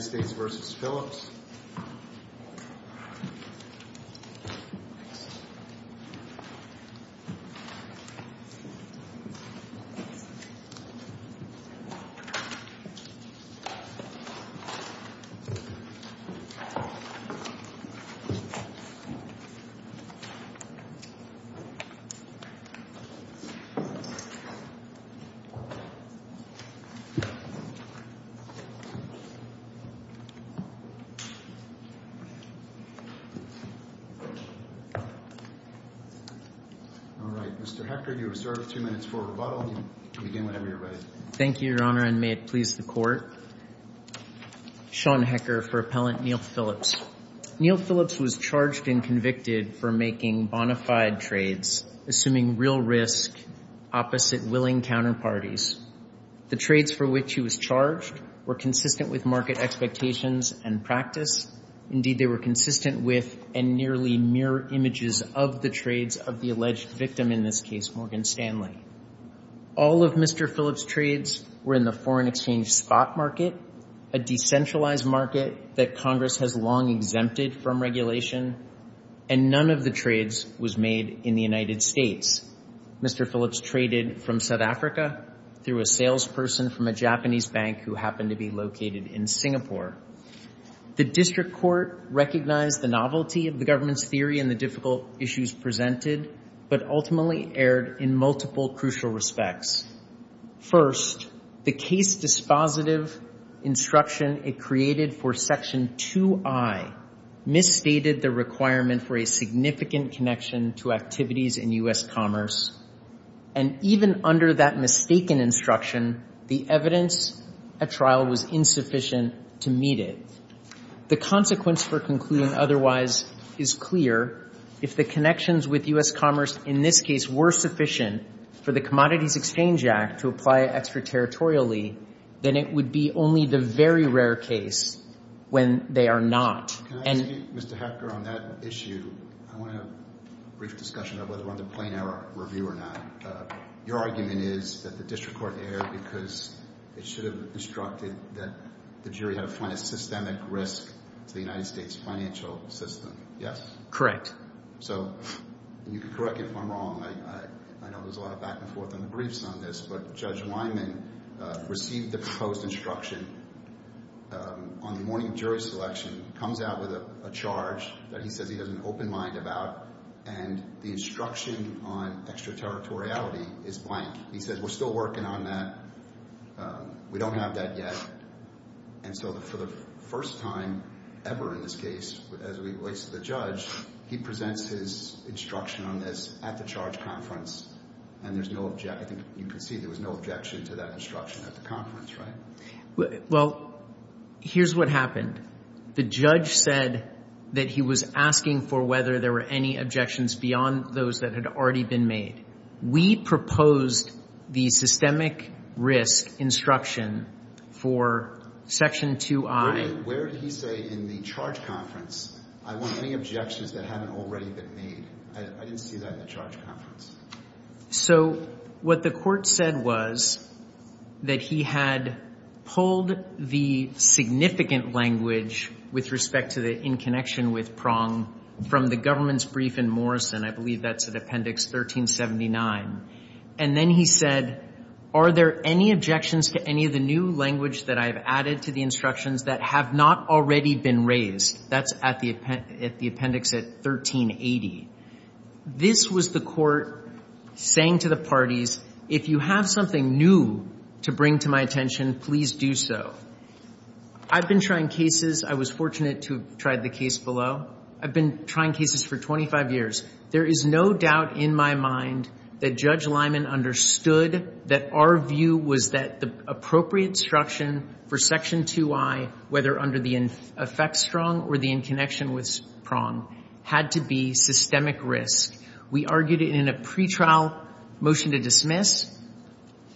United States v. Phillips All right, Mr. Hecker, you are served two minutes for rebuttal. You can begin whenever you're ready. Thank you, Your Honor, and may it please the Court. Sean Hecker for Appellant Neil Phillips. Neil Phillips was charged and convicted for making bona fide trades, assuming real risk opposite willing counterparties. The trades for which he was charged were consistent with market expectations and practice. Indeed, they were consistent with and nearly mirror images of the trades of the alleged victim, in this case, Morgan Stanley. All of Mr. Phillips' trades were in the foreign exchange spot market, a decentralized market that Congress has long exempted from regulation, and none of the trades was made in the United States. Mr. Phillips traded from South Africa through a salesperson from a Japanese bank who happened to be located in Singapore. The District Court recognized the novelty of the government's theory and the difficult issues presented, but ultimately erred in multiple crucial respects. First, the case dispositive instruction it created for Section 2i misstated the requirement for a significant connection to activities in U.S. commerce, and even under that mistaken instruction, the evidence at trial was insufficient to meet it. The consequence for concluding otherwise is clear. If the connections with U.S. commerce in this case were sufficient for the Commodities Exchange Act to apply it extraterritorially, then it would be only the very rare case when they are not. Can I ask you, Mr. Hecker, on that issue, I want to have a brief discussion of whether we're on the plain error review or not. Your argument is that the District Court erred because it should have instructed that the jury had to find a systemic risk to the United States financial system, yes? Correct. So, you can correct me if I'm wrong. I know there's a lot of back and forth on the briefs on this, but Judge Wyman received the proposed instruction on the morning jury selection, comes out with a charge that he says he has an open mind about, and the instruction on extraterritoriality is blank. He says, we're still working on that, we don't have that yet, and so for the first time ever in this case, as it relates to the judge, he presents his instruction on this at the charge conference, and there's no objection, you can see there was no objection to that instruction at the conference, right? Well, here's what happened. The judge said that he was asking for whether there were any objections beyond those that had already been made. We proposed the systemic risk instruction for Section 2i. Where did he say in the charge conference, I want any objections that haven't already been made? I didn't see that in the charge conference. So what the court said was that he had pulled the significant language with respect to the in connection with Prong from the government's brief in Morrison, I believe that's at Appendix 1379, and then he said, are there any objections to any of the new language that I've added to the instructions that have not already been raised? That's at the court saying to the parties, if you have something new to bring to my attention, please do so. I've been trying cases, I was fortunate to have tried the case below. I've been trying cases for 25 years. There is no doubt in my mind that Judge Lyman understood that our view was that the appropriate instruction for Section 2i, whether under the effects strong or the in connection with Prong, had to be systemic risk. We argued it in a pretrial motion to dismiss.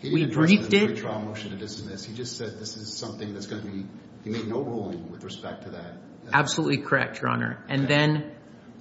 We briefed it. He didn't argue it in a pretrial motion to dismiss. He just said this is something that's going to be, he made no ruling with respect to that. Absolutely correct, Your Honor. And then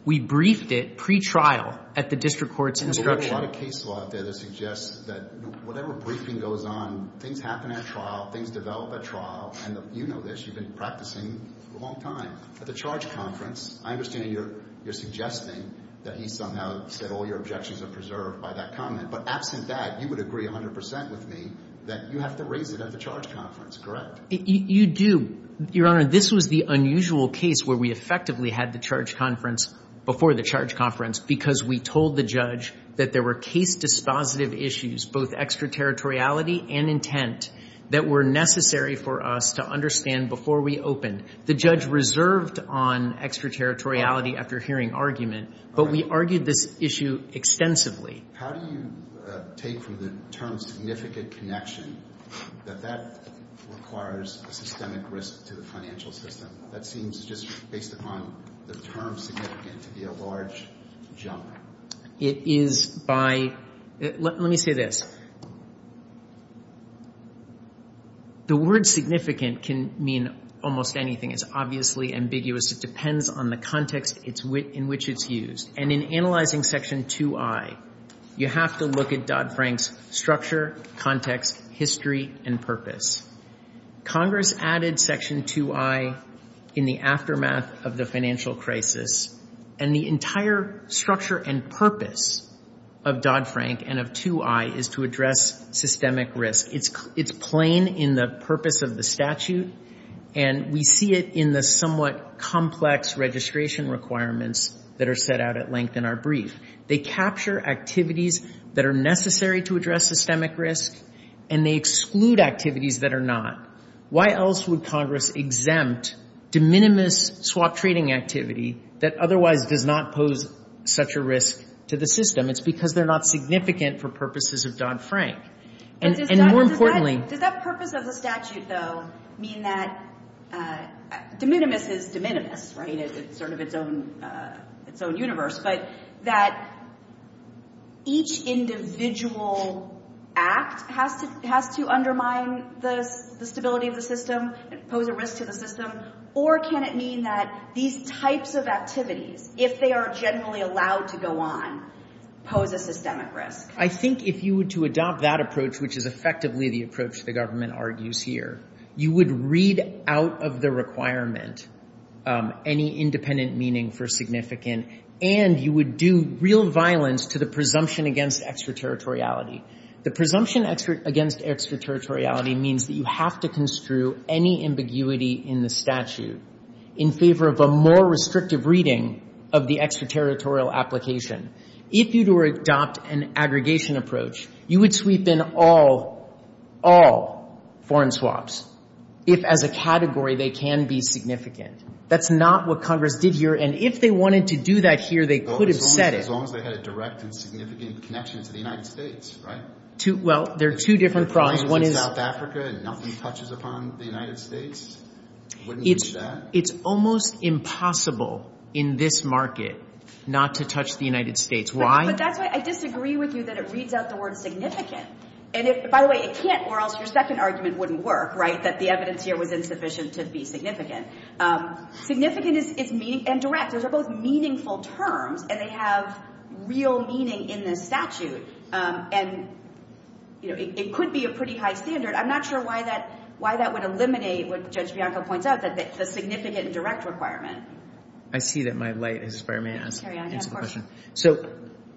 we briefed it pretrial at the district court's instruction. There's a lot of case law out there that suggests that whatever briefing goes on, things happen at trial, things develop at trial, and you know this, you've been practicing for a long time. At the charge conference, I understand you're suggesting that he somehow said all your objections are preserved by that comment, but absent that, you would agree 100% with me that you have to raise it at the charge conference, correct? You do. Your Honor, this was the unusual case where we effectively had the charge conference before the charge conference because we told the judge that there were case dispositive issues, both extraterritoriality and intent, that were necessary for us to understand before we opened. The judge reserved on extraterritoriality after hearing argument, but we argued this issue extensively. How do you take from the term significant connection that that requires a systemic risk to the financial system? That seems just based upon the term significant to be a large jump. It is by, let me say this. The word significant can mean almost anything. It's in which it's used. And in analyzing Section 2I, you have to look at Dodd-Frank's structure, context, history, and purpose. Congress added Section 2I in the aftermath of the financial crisis, and the entire structure and purpose of Dodd- Frank and of 2I is to address systemic risk. It's plain in the purpose of the set out at length in our brief. They capture activities that are necessary to address systemic risk, and they exclude activities that are not. Why else would Congress exempt de minimis swap trading activity that otherwise does not pose such a risk to the system? It's because they're not significant for purposes of Dodd-Frank. And more importantly... Does that purpose of the statute, though, mean that de minimis is de minimis, right? It's sort of its own universe. But that each individual act has to undermine the stability of the system and pose a risk to the system? Or can it mean that these types of activities, if they are generally allowed to go on, pose a systemic risk? I think if you were to adopt that approach, which is effectively the approach the government argues here, you would read out of the requirement any independent meaning for significant, and you would do real violence to the presumption against extraterritoriality. The presumption against extraterritoriality means that you have to construe any ambiguity in the statute in favor of a more restrictive reading of the extraterritorial application. If you were to adopt an aggregation approach, you would sweep in all foreign swaps if, as a category, they can be significant. That's not what Congress did here. And if they wanted to do that here, they could have said it. As long as they had a direct and significant connection to the United States, right? Well, there are two different problems. One is... If the client is in South Africa and nothing touches upon the United States, wouldn't you do that? It's almost impossible in this market not to touch the United States. Why? But that's why I disagree with you that it reads out the word significant. And, by the way, it can't, or else your second argument wouldn't work, right, that the evidence here was insufficient to be significant. Significant is meaning and direct. Those are both meaningful terms, and they have real meaning in this statute. And, you know, it could be a pretty high standard. I'm not sure why that would eliminate what Judge Bianco points out, the significant and direct requirement. I see that my light has expired. May I answer the question? Carry on. So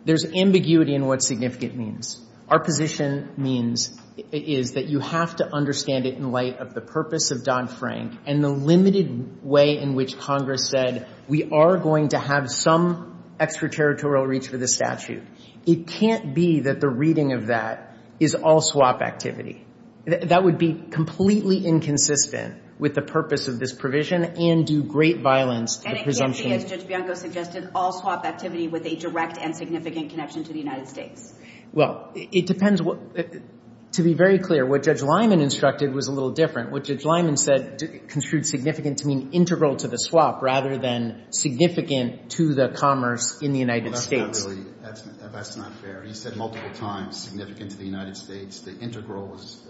there's ambiguity in what significant means. Our position means is that you have to understand it in light of the purpose of Don Frank and the limited way in which Congress said we are going to have some extraterritorial reach for this statute. It can't be that the reading of that is all swap activity. That would be completely inconsistent with the purpose of this provision and do great violence to presumption. And it can't be, as Judge Bianco suggested, all swap activity with a direct and significant connection to the United States. Well, it depends. To be very clear, what Judge Lyman instructed was a little different. What Judge Lyman said construed significant to mean integral to the swap rather than significant to the commerce in the United States. Well, that's not really, that's not fair. He said multiple times significant to the United States. The integral was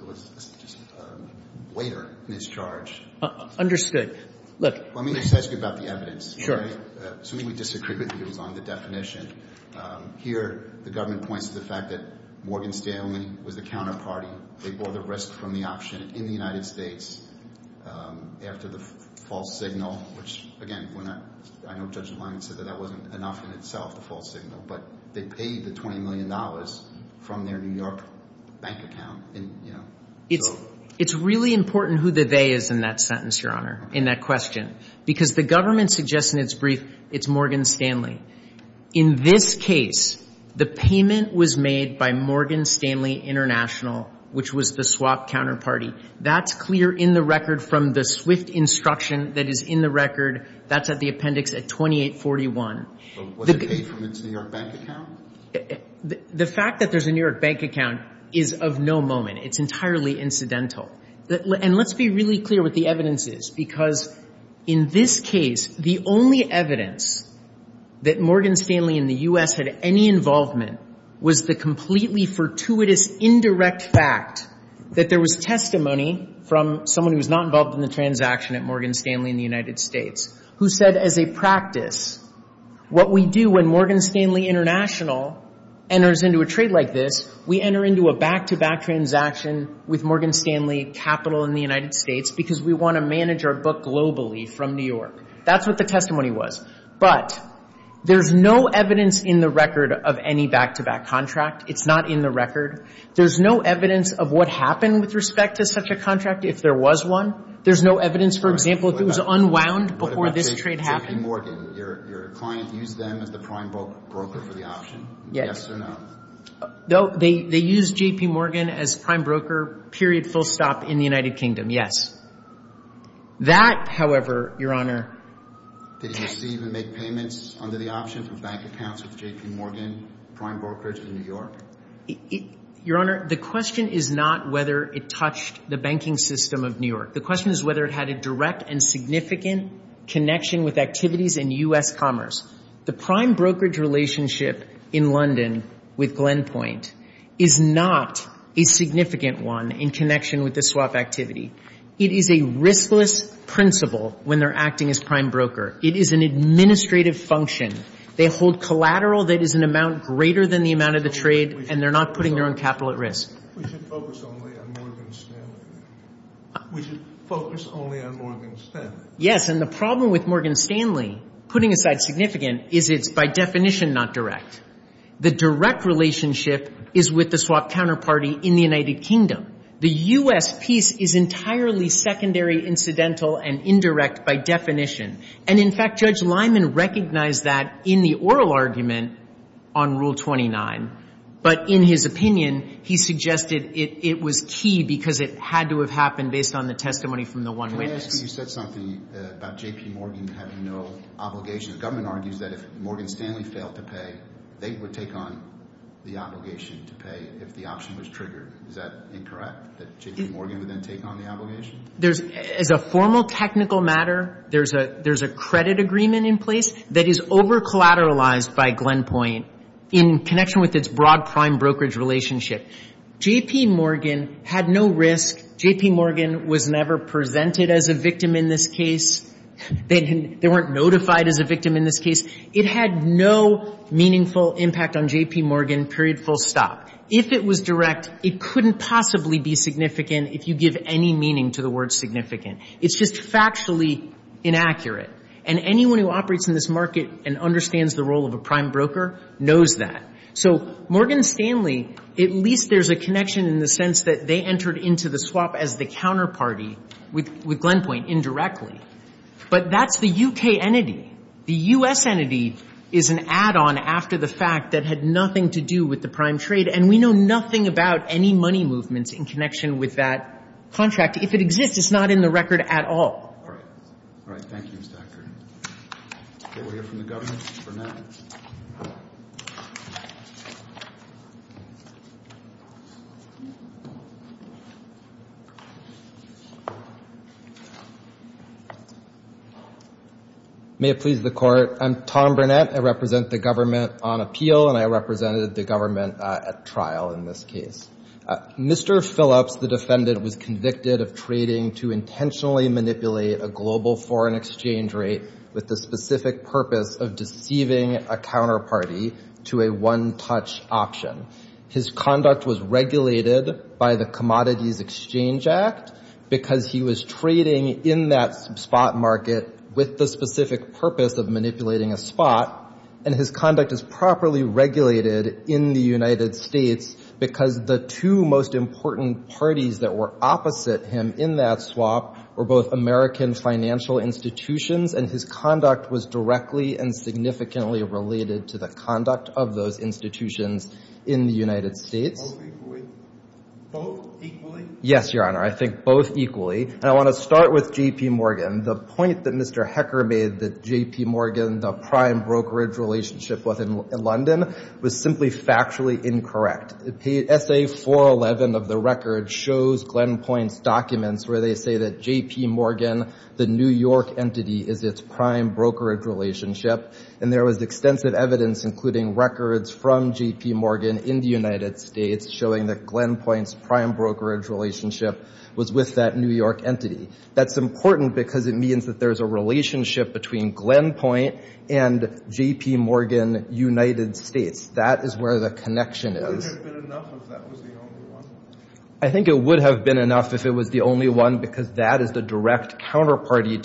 just a weighter mischarge. Understood. Let me just ask you about the evidence. Sure. Assuming we disagree with you on the definition, here the government points to the fact that Morgan Stanley was the counterparty. They bought the risk from the option in the United States after the false signal, which, again, I know Judge Lyman said that that wasn't enough in itself, the false account. It's really important who the they is in that sentence, Your Honor, in that question, because the government suggests in its brief it's Morgan Stanley. In this case, the payment was made by Morgan Stanley International, which was the swap counterparty. That's clear in the record from the swift instruction that is in the record. That's at the appendix at 2841. Was it paid from its New York bank account? The fact that there's a New York bank account is of no moment. It's entirely incidental. And let's be really clear what the evidence is, because in this case, the only evidence that Morgan Stanley in the U.S. had any involvement was the completely fortuitous indirect fact that there was testimony from someone who was not involved in the transaction at Morgan Stanley in the United States who said as a enters into a trade like this, we enter into a back-to-back transaction with Morgan Stanley Capital in the United States because we want to manage our book globally from New York. That's what the testimony was. But there's no evidence in the record of any back-to-back contract. It's not in the record. There's no evidence of what happened with respect to such a contract if there was one. There's no evidence, for example, if it was unwound before this trade happened. J.P. Morgan, your client used them as the prime broker for the option. Yes or no? They used J.P. Morgan as prime broker, period, full stop, in the United Kingdom. Yes. That, however, Your Honor. Did he receive and make payments under the option from bank accounts with J.P. Morgan, prime brokerage in New York? Your Honor, the question is not whether it touched the banking system of New York. The question is whether it had a direct and significant connection with activities in U.S. commerce. The prime brokerage relationship in London with Glenpoint is not a significant one in connection with the swap activity. It is a riskless principle when they're acting as prime broker. It is an administrative function. They hold collateral that is an amount greater than the amount of the trade, and they're not putting their own capital at risk. We should focus only on Morgan Stanley. We should focus only on Morgan Stanley. Yes, and the problem with Morgan Stanley, putting aside significant, is it's by definition not direct. The direct relationship is with the swap counterparty in the United Kingdom. The U.S. piece is entirely secondary, incidental, and indirect by definition. And, in fact, Judge Lyman recognized that in the oral argument on Rule 29, but in his opinion, he suggested it was key because it had to have happened based on the testimony from the one witness. Can I ask you, you said something about J.P. Morgan having no obligation. The government argues that if Morgan Stanley failed to pay, they would take on the obligation to pay if the option was triggered. Is that incorrect, that J.P. Morgan would then take on the obligation? As a formal technical matter, there's a credit agreement in place that is over collateralized by Glenpoint. In connection with its broad prime brokerage relationship, J.P. Morgan had no risk. J.P. Morgan was never presented as a victim in this case. They weren't notified as a victim in this case. It had no meaningful impact on J.P. Morgan, period, full stop. If it was direct, it couldn't possibly be significant if you give any meaning to the word significant. It's just factually inaccurate. And anyone who operates in this market and understands the role of a prime broker knows that. So Morgan Stanley, at least there's a connection in the sense that they entered into the swap as the counterparty with Glenpoint indirectly. But that's the U.K. entity. The U.S. entity is an add-on after the fact that had nothing to do with the prime trade, and we know nothing about any money movements in connection with that contract. If it exists, it's not in the record at all. All right. Thank you, Mr. Hacker. We'll hear from the government. Mr. Burnett. May it please the Court. I'm Tom Burnett. I represent the government on appeal, and I represented the government at trial in this case. Mr. Phillips, the defendant, was convicted of trading to intentionally manipulate a global foreign exchange rate with the specific purpose of deceiving a counterparty to a one-touch option. His conduct was regulated by the Commodities Exchange Act because he was trading in that spot market with the specific purpose of manipulating a spot, and his conduct is properly regulated in the United States because the two most important parties that were opposite him in that swap were both American financial institutions, and his conduct was directly and significantly related to the conduct of those institutions in the United States. Both equally? Both equally? Yes, Your Honor. I think both equally. And I want to start with J.P. Morgan. The point that Mr. Hacker made that J.P. Morgan, the prime brokerage relationship within London, was simply factually incorrect. Essay 411 of the record shows Glenn Point's documents where they say that J.P. Morgan, the New York entity, is its prime brokerage relationship, and there was extensive evidence, including records from J.P. Morgan in the United States, showing that Glenn Point's prime brokerage relationship was with that New York entity. That's important because it means that there's a relationship between Glenn Point and J.P. Morgan, United States. That is where the connection is. Would it have been enough if that was the only one? I think it would have been enough if it was the only one because that is the direct counterparty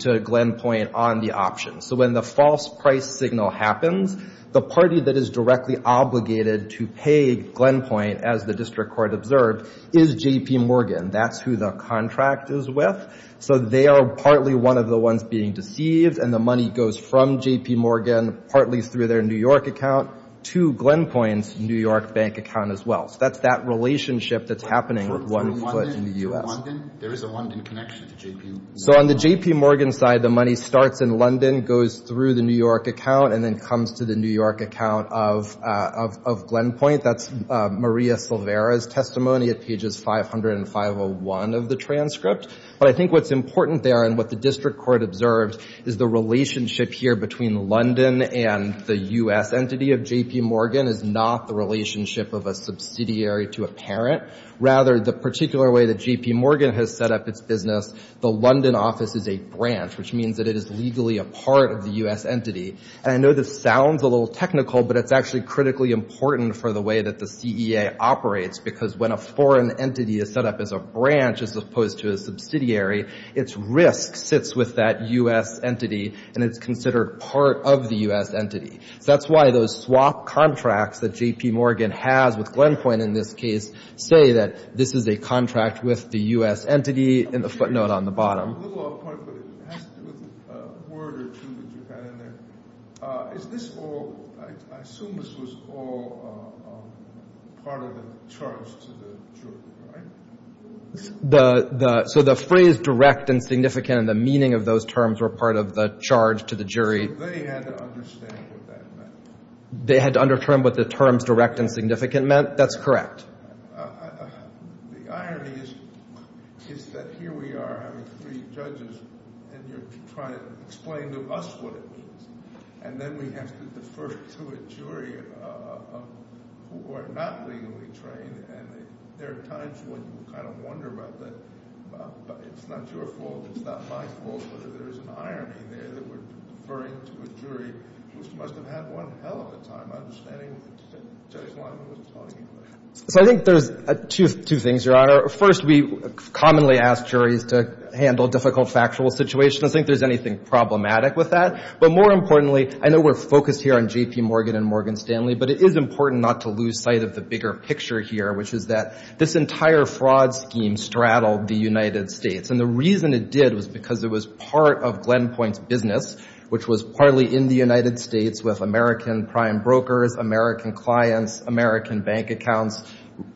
to Glenn Point on the option. So when the false price signal happens, the party that is directly obligated to pay Glenn Point, as the district court observed, is J.P. Morgan. That's who the contract is with. So they are partly one of the ones being deceived, and the money goes from J.P. Morgan, partly through their New York account, to Glenn Point's New York bank account as well. So that's that relationship that's happening with one foot in the U.S. There is a London connection to J.P. Morgan. So on the J.P. Morgan side, the money starts in London, goes through the New York account, and then comes to the New York account of Glenn Point. That's Maria Silvera's testimony at pages 500 and 501 of the transcript. But I think what's important there and what the district court observed is the U.S. entity of J.P. Morgan is not the relationship of a subsidiary to a parent. Rather, the particular way that J.P. Morgan has set up its business, the London office is a branch, which means that it is legally a part of the U.S. entity. And I know this sounds a little technical, but it's actually critically important for the way that the CEA operates, because when a foreign entity is set up as a branch as opposed to a subsidiary, its risk sits with that U.S. entity, and it's considered part of the U.S. entity. So that's why those swap contracts that J.P. Morgan has with Glenn Point in this case say that this is a contract with the U.S. entity in the footnote on the bottom. A little off point, but it has to do with a word or two that you had in there. Is this all, I assume this was all part of the charge to the jury, right? So the phrase direct and significant and the meaning of those terms were part of the charge to the jury. They had to understand what that meant. They had to understand what the terms direct and significant meant? That's correct. The irony is that here we are having three judges, and you're trying to explain to us what it means. And then we have to defer to a jury who are not legally trained, and there are times when you kind of wonder about that. It's not your fault. It's not my fault whether there's an irony there that we're deferring to a jury who must have had one hell of a time understanding that Judge Lyman wasn't talking English. So I think there's two things, Your Honor. First, we commonly ask juries to handle difficult factual situations. I don't think there's anything problematic with that. But more importantly, I know we're focused here on J.P. Morgan and Morgan Stanley, but it is important not to lose sight of the bigger picture here, which is that this entire fraud scheme straddled the United States. And the reason it did was because it was part of Glen Point's business, which was partly in the United States with American prime brokers, American clients, American bank accounts,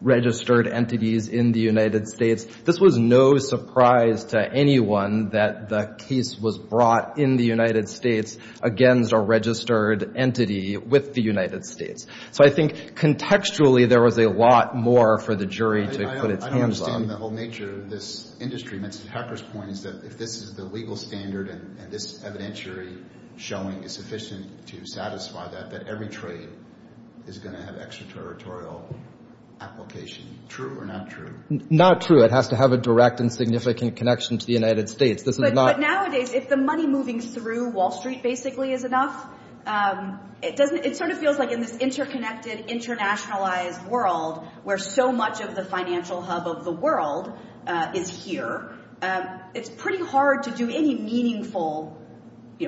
registered entities in the United States. This was no surprise to anyone that the case was brought in the United States against a registered entity with the United States. So I think contextually there was a lot more for the jury to put its hands on. I don't understand the whole nature of this industry. Mr. Tucker's point is that if this is the legal standard and this evidentiary showing is sufficient to satisfy that, that every trade is going to have extraterritorial application. True or not true? Not true. It has to have a direct and significant connection to the United States. But nowadays, if the money moving through Wall Street basically is enough, it sort of feels like in this interconnected, internationalized world, where so much of the financial hub of the world is here, it's pretty hard to do any meaningful,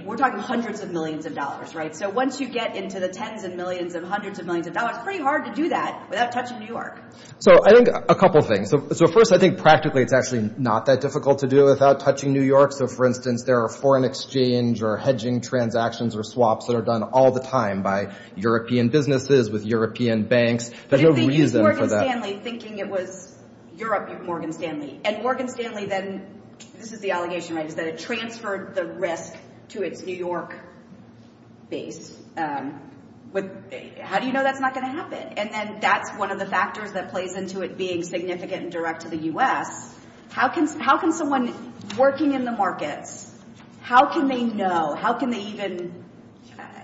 we're talking hundreds of millions of dollars, right? So once you get into the tens of millions and hundreds of millions of dollars, it's pretty hard to do that without touching New York. So I think a couple of things. So first, I think practically it's actually not that difficult to do without touching New York. So, for instance, there are foreign exchange or hedging transactions or swaps that are done all the time by European businesses with European banks. There's no reason for that. You're thinking Morgan Stanley, thinking it was Europe, Morgan Stanley. And Morgan Stanley then, this is the allegation, right, is that it transferred the risk to its New York base. How do you know that's not going to happen? And then that's one of the factors that plays into it being significant and direct to the U.S. How can someone working in the markets, how can they know, how can they even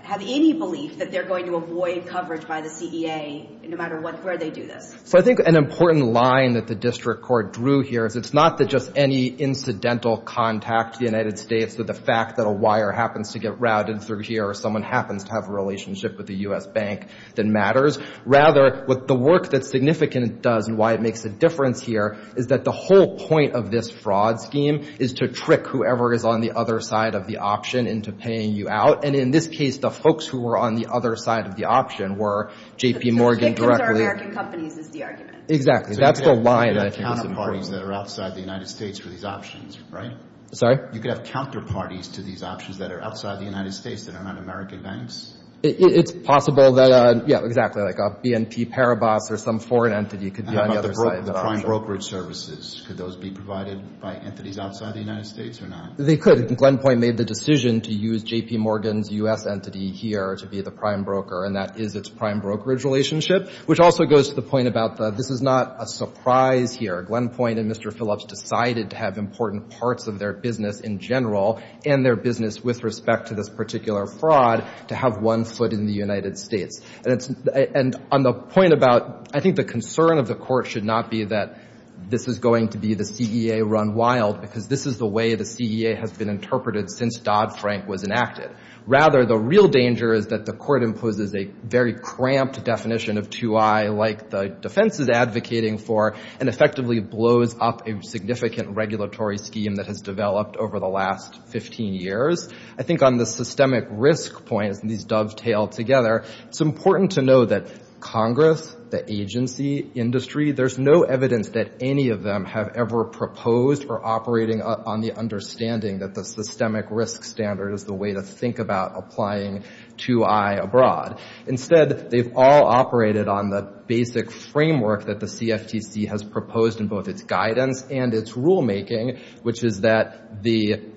have any belief that they're going to avoid coverage by the CEA no matter where they do this? So I think an important line that the District Court drew here is it's not that just any incidental contact to the United States or the fact that a wire happens to get routed through here or someone happens to have a relationship with the U.S. bank that matters. Rather, what the work that's significant does and why it makes a difference here is that the whole point of this fraud scheme is to trick whoever is on the other side of the option into paying you out. And in this case, the folks who were on the other side of the option were J.P. Morgan directly. The victims are American companies is the argument. Exactly. That's the line I think is important. So you could have counterparties that are outside the United States for these options, right? Sorry? You could have counterparties to these options that are outside the United States that are not American banks? It's possible that, yeah, exactly, like a BNP Paribas or some foreign entity could be on the other side of the option. What about prime brokerage services? Could those be provided by entities outside the United States or not? They could. Glen Point made the decision to use J.P. Morgan's U.S. entity here to be the prime broker, and that is its prime brokerage relationship, which also goes to the point about this is not a surprise here. Glen Point and Mr. Phillips decided to have important parts of their business in general and their business with respect to this particular fraud to have one foot in the United States. And on the point about I think the concern of the court should not be that this is going to be the CEA run wild because this is the way the CEA has been interpreted since Dodd-Frank was enacted. Rather, the real danger is that the court imposes a very cramped definition of 2I, like the defense is advocating for, and effectively blows up a significant regulatory scheme that has developed over the last 15 years. I think on the systemic risk point, as these dovetail together, it's important to know that Congress, the agency industry, there's no evidence that any of them have ever proposed or operating on the understanding that the systemic risk standard is the way to think about applying 2I abroad. Instead, they've all operated on the basic framework that the CFTC has proposed in both its guidance and its rulemaking, which is that there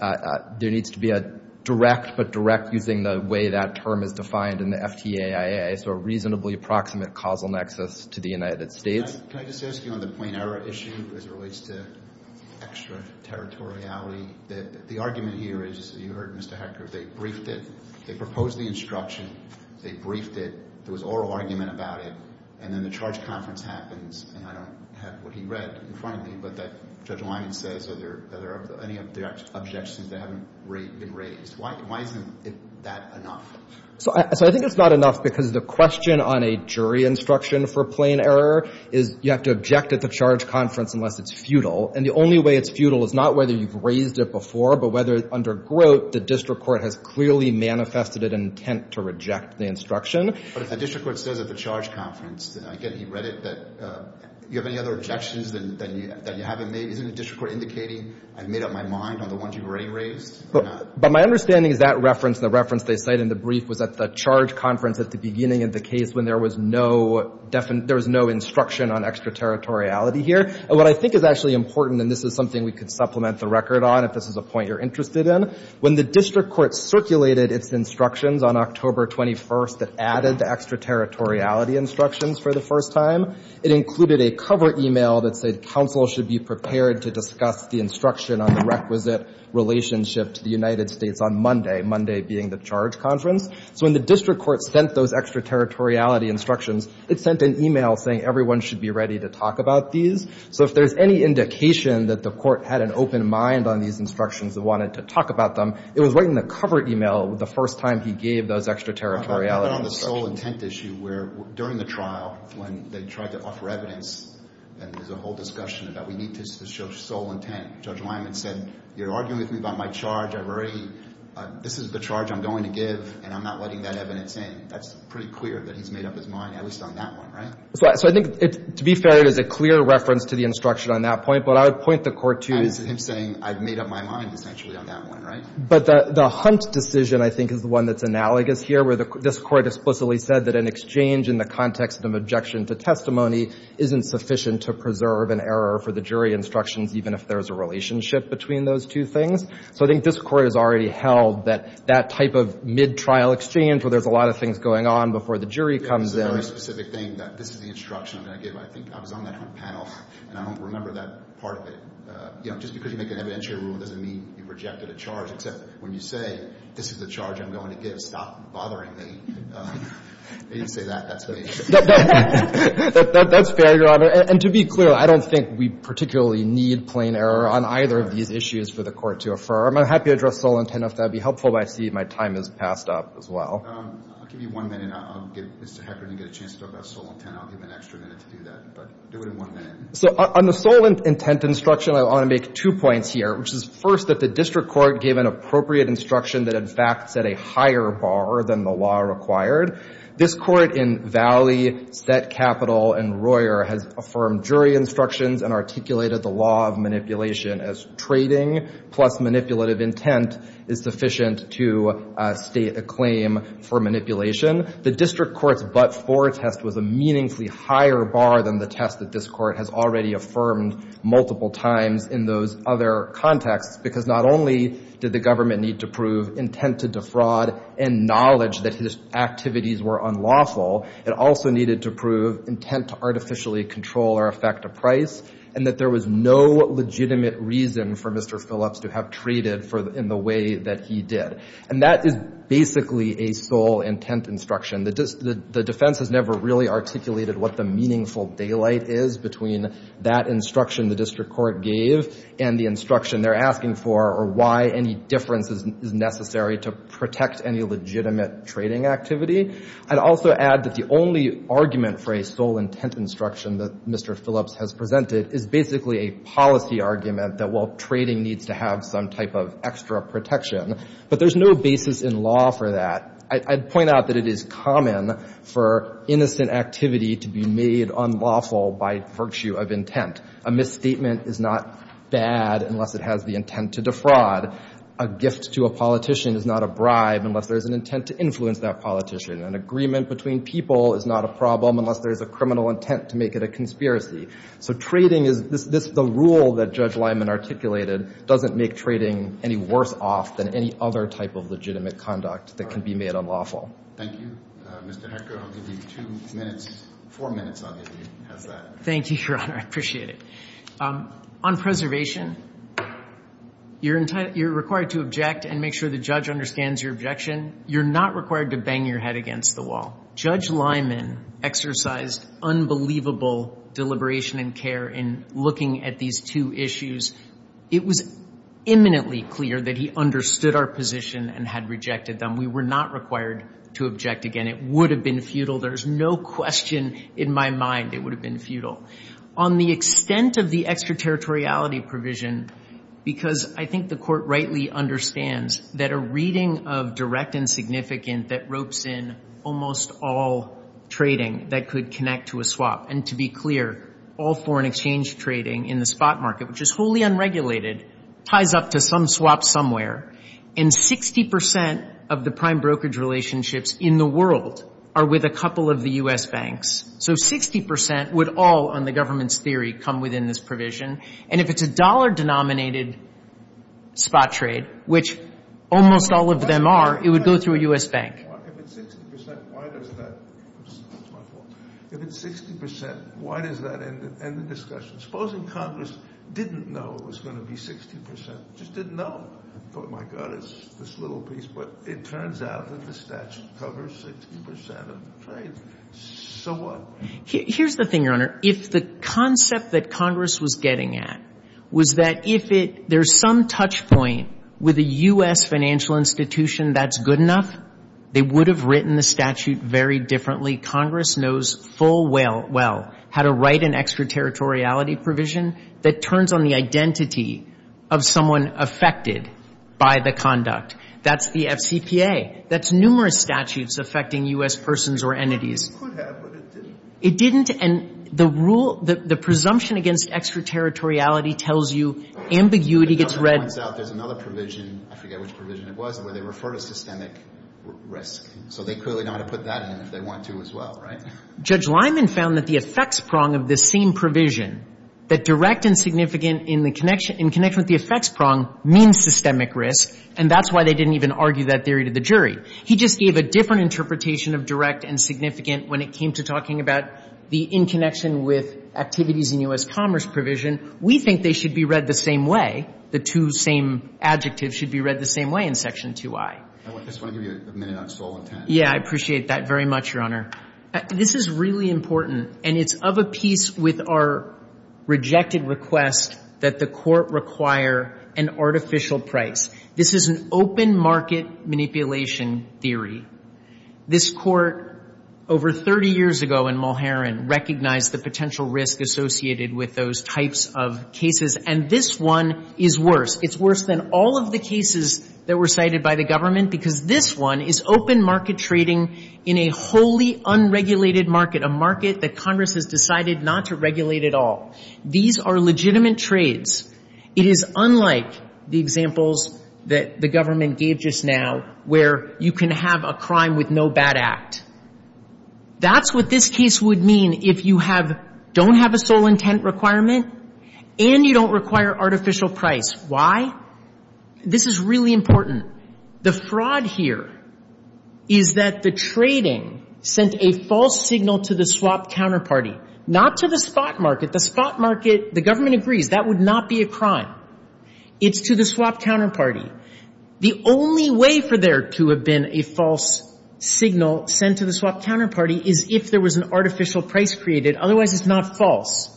needs to be a direct, but direct, using the way that term is defined in the FTAIA, so a reasonably approximate causal nexus to the United States. Can I just ask you on the plain error issue as it relates to extra territoriality? The argument here is, you heard Mr. Hector, they briefed it. They proposed the instruction. They briefed it. There was oral argument about it. And then the charge conference happens, and I don't have what he read in front of me, but Judge Lyman says, are there any objections that haven't been raised? Why isn't that enough? So I think it's not enough because the question on a jury instruction for plain error is you have to object at the charge conference unless it's futile. And the only way it's futile is not whether you've raised it before, but whether under grote the district court has clearly manifested an intent to reject the instruction. But if the district court says at the charge conference, and again, he read it, that you have any other objections that you haven't made? Isn't the district court indicating I've made up my mind on the ones you've already raised? But my understanding is that reference, the reference they cite in the brief, was at the charge conference at the beginning of the case when there was no instruction on extra territoriality here. And what I think is actually important, and this is something we could supplement the record on if this is a point you're interested in, when the district court circulated its instructions on October 21st that added the extra territoriality instructions for the first time, it included a cover email that said counsel should be prepared to discuss the instruction on the requisite relationship to the United States on Monday, Monday being the charge conference. So when the district court sent those extra territoriality instructions, it sent an email saying everyone should be ready to talk about these. So if there's any indication that the court had an open mind on these instructions and wanted to talk about them, it was right in the cover email the first time he gave those extra territoriality instructions. But on the sole intent issue where during the trial when they tried to offer evidence, and there's a whole discussion about we need to show sole intent, Judge Lyman said you're arguing with me about my charge, I've already, this is the charge I'm going to give, and I'm not letting that evidence in. That's pretty clear that he's made up his mind, at least on that one, right? So I think to be fair, it is a clear reference to the instruction on that point, but I would point the court to... He's saying I've made up my mind essentially on that one, right? But the Hunt decision I think is the one that's analogous here where this court explicitly said that an exchange in the context of objection to testimony isn't sufficient to preserve an error for the jury instructions even if there's a relationship between those two things. So I think this court has already held that that type of mid-trial exchange where there's a lot of things going on before the jury comes in... It's a very specific thing that this is the instruction I'm going to give. I think I was on that Hunt panel, and I don't remember that part of it. Just because you make an evidentiary rule doesn't mean you've rejected a charge, except when you say, this is the charge I'm going to give. Stop bothering me. They didn't say that. That's me. That's fair, Your Honor. And to be clear, I don't think we particularly need plain error on either of these issues for the court to affirm. I'm happy to address sole intent if that would be helpful, but I see my time has passed up as well. I'll give you one minute. I'll get Mr. Heckert to get a chance to talk about sole intent. I'll give him an extra minute to do that, but do it in one minute. So on the sole intent instruction, I want to make two points here, which is, first, that the district court gave an appropriate instruction that, in fact, set a higher bar than the law required. This court in Valley, Set, Capital, and Royer has affirmed jury instructions and articulated the law of manipulation as trading plus manipulative intent is sufficient to state a claim for manipulation. The district court's but-for test was a meaningfully higher bar than the test that this court has already affirmed multiple times in those other contexts because not only did the government need to prove intent to defraud and knowledge that his activities were unlawful, it also needed to prove intent to artificially control or affect a price and that there was no legitimate reason for Mr. Phillips to have traded in the way that he did. And that is basically a sole intent instruction. The defense has never really articulated what the meaningful daylight is between that instruction the district court gave and the instruction they're asking for or why any difference is necessary to protect any legitimate trading activity. I'd also add that the only argument for a sole intent instruction that Mr. Phillips has presented is basically a policy argument that, well, trading needs to have some type of extra protection, but there's no basis in law for that. I'd point out that it is common for innocent activity to be made unlawful by virtue of intent. A misstatement is not bad unless it has the intent to defraud. A gift to a politician is not a bribe unless there is an intent to influence that politician. An agreement between people is not a problem unless there is a criminal intent to make it a conspiracy. So trading is the rule that Judge Lyman articulated doesn't make trading any worse off than any other type of legitimate conduct that can be made unlawful. Thank you. Mr. Hecker, I'll give you two minutes. Four minutes I'll give you as that. Thank you, Your Honor. I appreciate it. On preservation, you're required to object and make sure the judge understands your objection. You're not required to bang your head against the wall. Judge Lyman exercised unbelievable deliberation and care in looking at these two issues. It was imminently clear that he understood our position and had rejected them. We were not required to object again. It would have been futile. There's no question in my mind it would have been futile. On the extent of the extraterritoriality provision, because I think the Court rightly understands that a reading of direct and significant that ropes in almost all trading that could connect to a swap, and to be clear, all foreign exchange trading in the spot market, which is wholly unregulated, ties up to some swap somewhere. And 60% of the prime brokerage relationships in the world are with a couple of the U.S. banks. So 60% would all, on the government's theory, come within this provision. And if it's a dollar-denominated spot trade, which almost all of them are, it would go through a U.S. bank. If it's 60%, why does that end the discussion? Supposing Congress didn't know it was going to be 60%. They just didn't know. They thought, my God, it's this little piece. But it turns out that the statute covers 60% of the trade. So what? Here's the thing, Your Honor. If the concept that Congress was getting at was that if there's some touchpoint with a U.S. financial institution that's good enough, they would have written the statute very differently. Congress knows full well how to write an extraterritoriality provision that turns on the identity of someone affected by the conduct. That's the FCPA. That's numerous statutes affecting U.S. persons or entities. It could have, but it didn't. It didn't, and the rule, the presumption against extraterritoriality tells you ambiguity gets read. There's another provision, I forget which provision it was, where they refer to systemic risk. So they clearly know how to put that in if they want to as well, right? Judge Lyman found that the effects prong of this same provision, that direct and significant in connection with the effects prong, means systemic risk, and that's why they didn't even argue that theory to the jury. He just gave a different interpretation of direct and significant when it came to talking about the in connection with activities in U.S. commerce provision. We think they should be read the same way. The two same adjectives should be read the same way in Section 2I. I just want to give you a minute on stalling time. Yeah, I appreciate that very much, Your Honor. This is really important, and it's of a piece with our rejected request that the court require an artificial price. This is an open market manipulation theory. This court over 30 years ago in Mulherin recognized the potential risk associated with those types of cases, and this one is worse. It's worse than all of the cases that were cited by the government because this one is open market trading in a wholly unregulated market, a market that Congress has decided not to regulate at all. These are legitimate trades. It is unlike the examples that the government gave just now where you can have a crime with no bad act. That's what this case would mean if you don't have a sole intent requirement and you don't require artificial price. Why? This is really important. The fraud here is that the trading sent a false signal to the swap counterparty, not to the spot market. The spot market, the government agrees that would not be a crime. It's to the swap counterparty. The only way for there to have been a false signal sent to the swap counterparty is if there was an artificial price created. Otherwise, it's not false.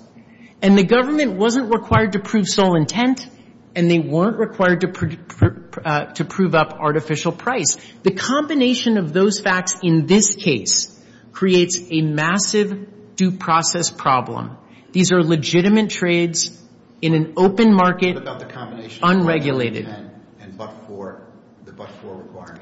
And the government wasn't required to prove sole intent, and they weren't required to prove up artificial price. The combination of those facts in this case creates a massive due process problem. These are legitimate trades in an open market, unregulated. What about the combination of sole intent and but-for, the but-for requirement?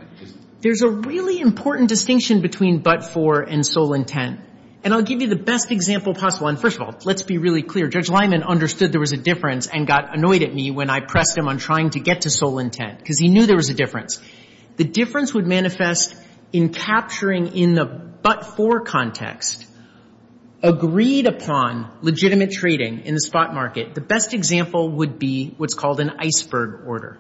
There's a really important distinction between but-for and sole intent. And I'll give you the best example possible. And first of all, let's be really clear. Judge Lyman understood there was a difference and got annoyed at me when I pressed him on trying to get to sole intent because he knew there was a difference. The difference would manifest in capturing in the but-for context. Agreed upon legitimate trading in the spot market, the best example would be what's called an iceberg order.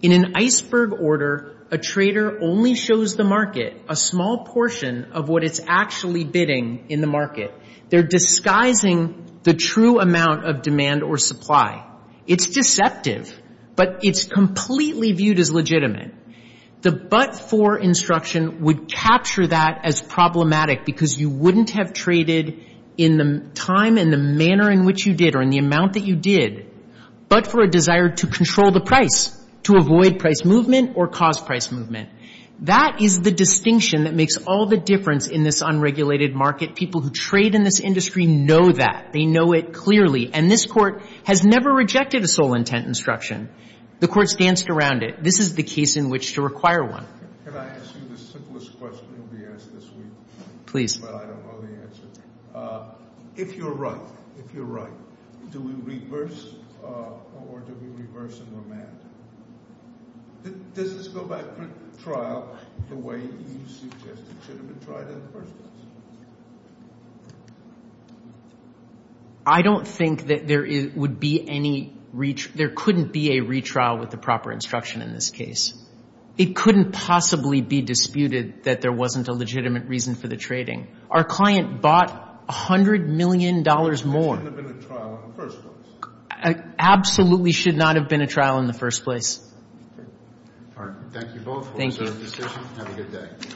In an iceberg order, a trader only shows the market a small portion of what it's actually bidding in the market. They're disguising the true amount of demand or supply. It's deceptive, but it's completely viewed as legitimate. The but-for instruction would capture that as problematic because you wouldn't have traded in the time and the manner in which you did or in the amount that you did, but for a desire to control the price, to avoid price movement or cause price movement. That is the distinction that makes all the difference in this unregulated market. People who trade in this industry know that. They know it clearly, and this Court has never rejected a sole intent instruction. The Court's danced around it. This is the case in which to require one. Can I ask you the simplest question that will be asked this week? Please. But I don't know the answer. If you're right, if you're right, do we reverse or do we reverse and remand? Does this go back to trial the way you suggested it should have been tried in the first place? I don't think that there would be any retrial. There couldn't be a retrial with the proper instruction in this case. It couldn't possibly be disputed that there wasn't a legitimate reason for the trading. Our client bought $100 million more. It shouldn't have been a trial in the first place. Absolutely should not have been a trial in the first place. All right. Thank you both. Thank you. Have a good day.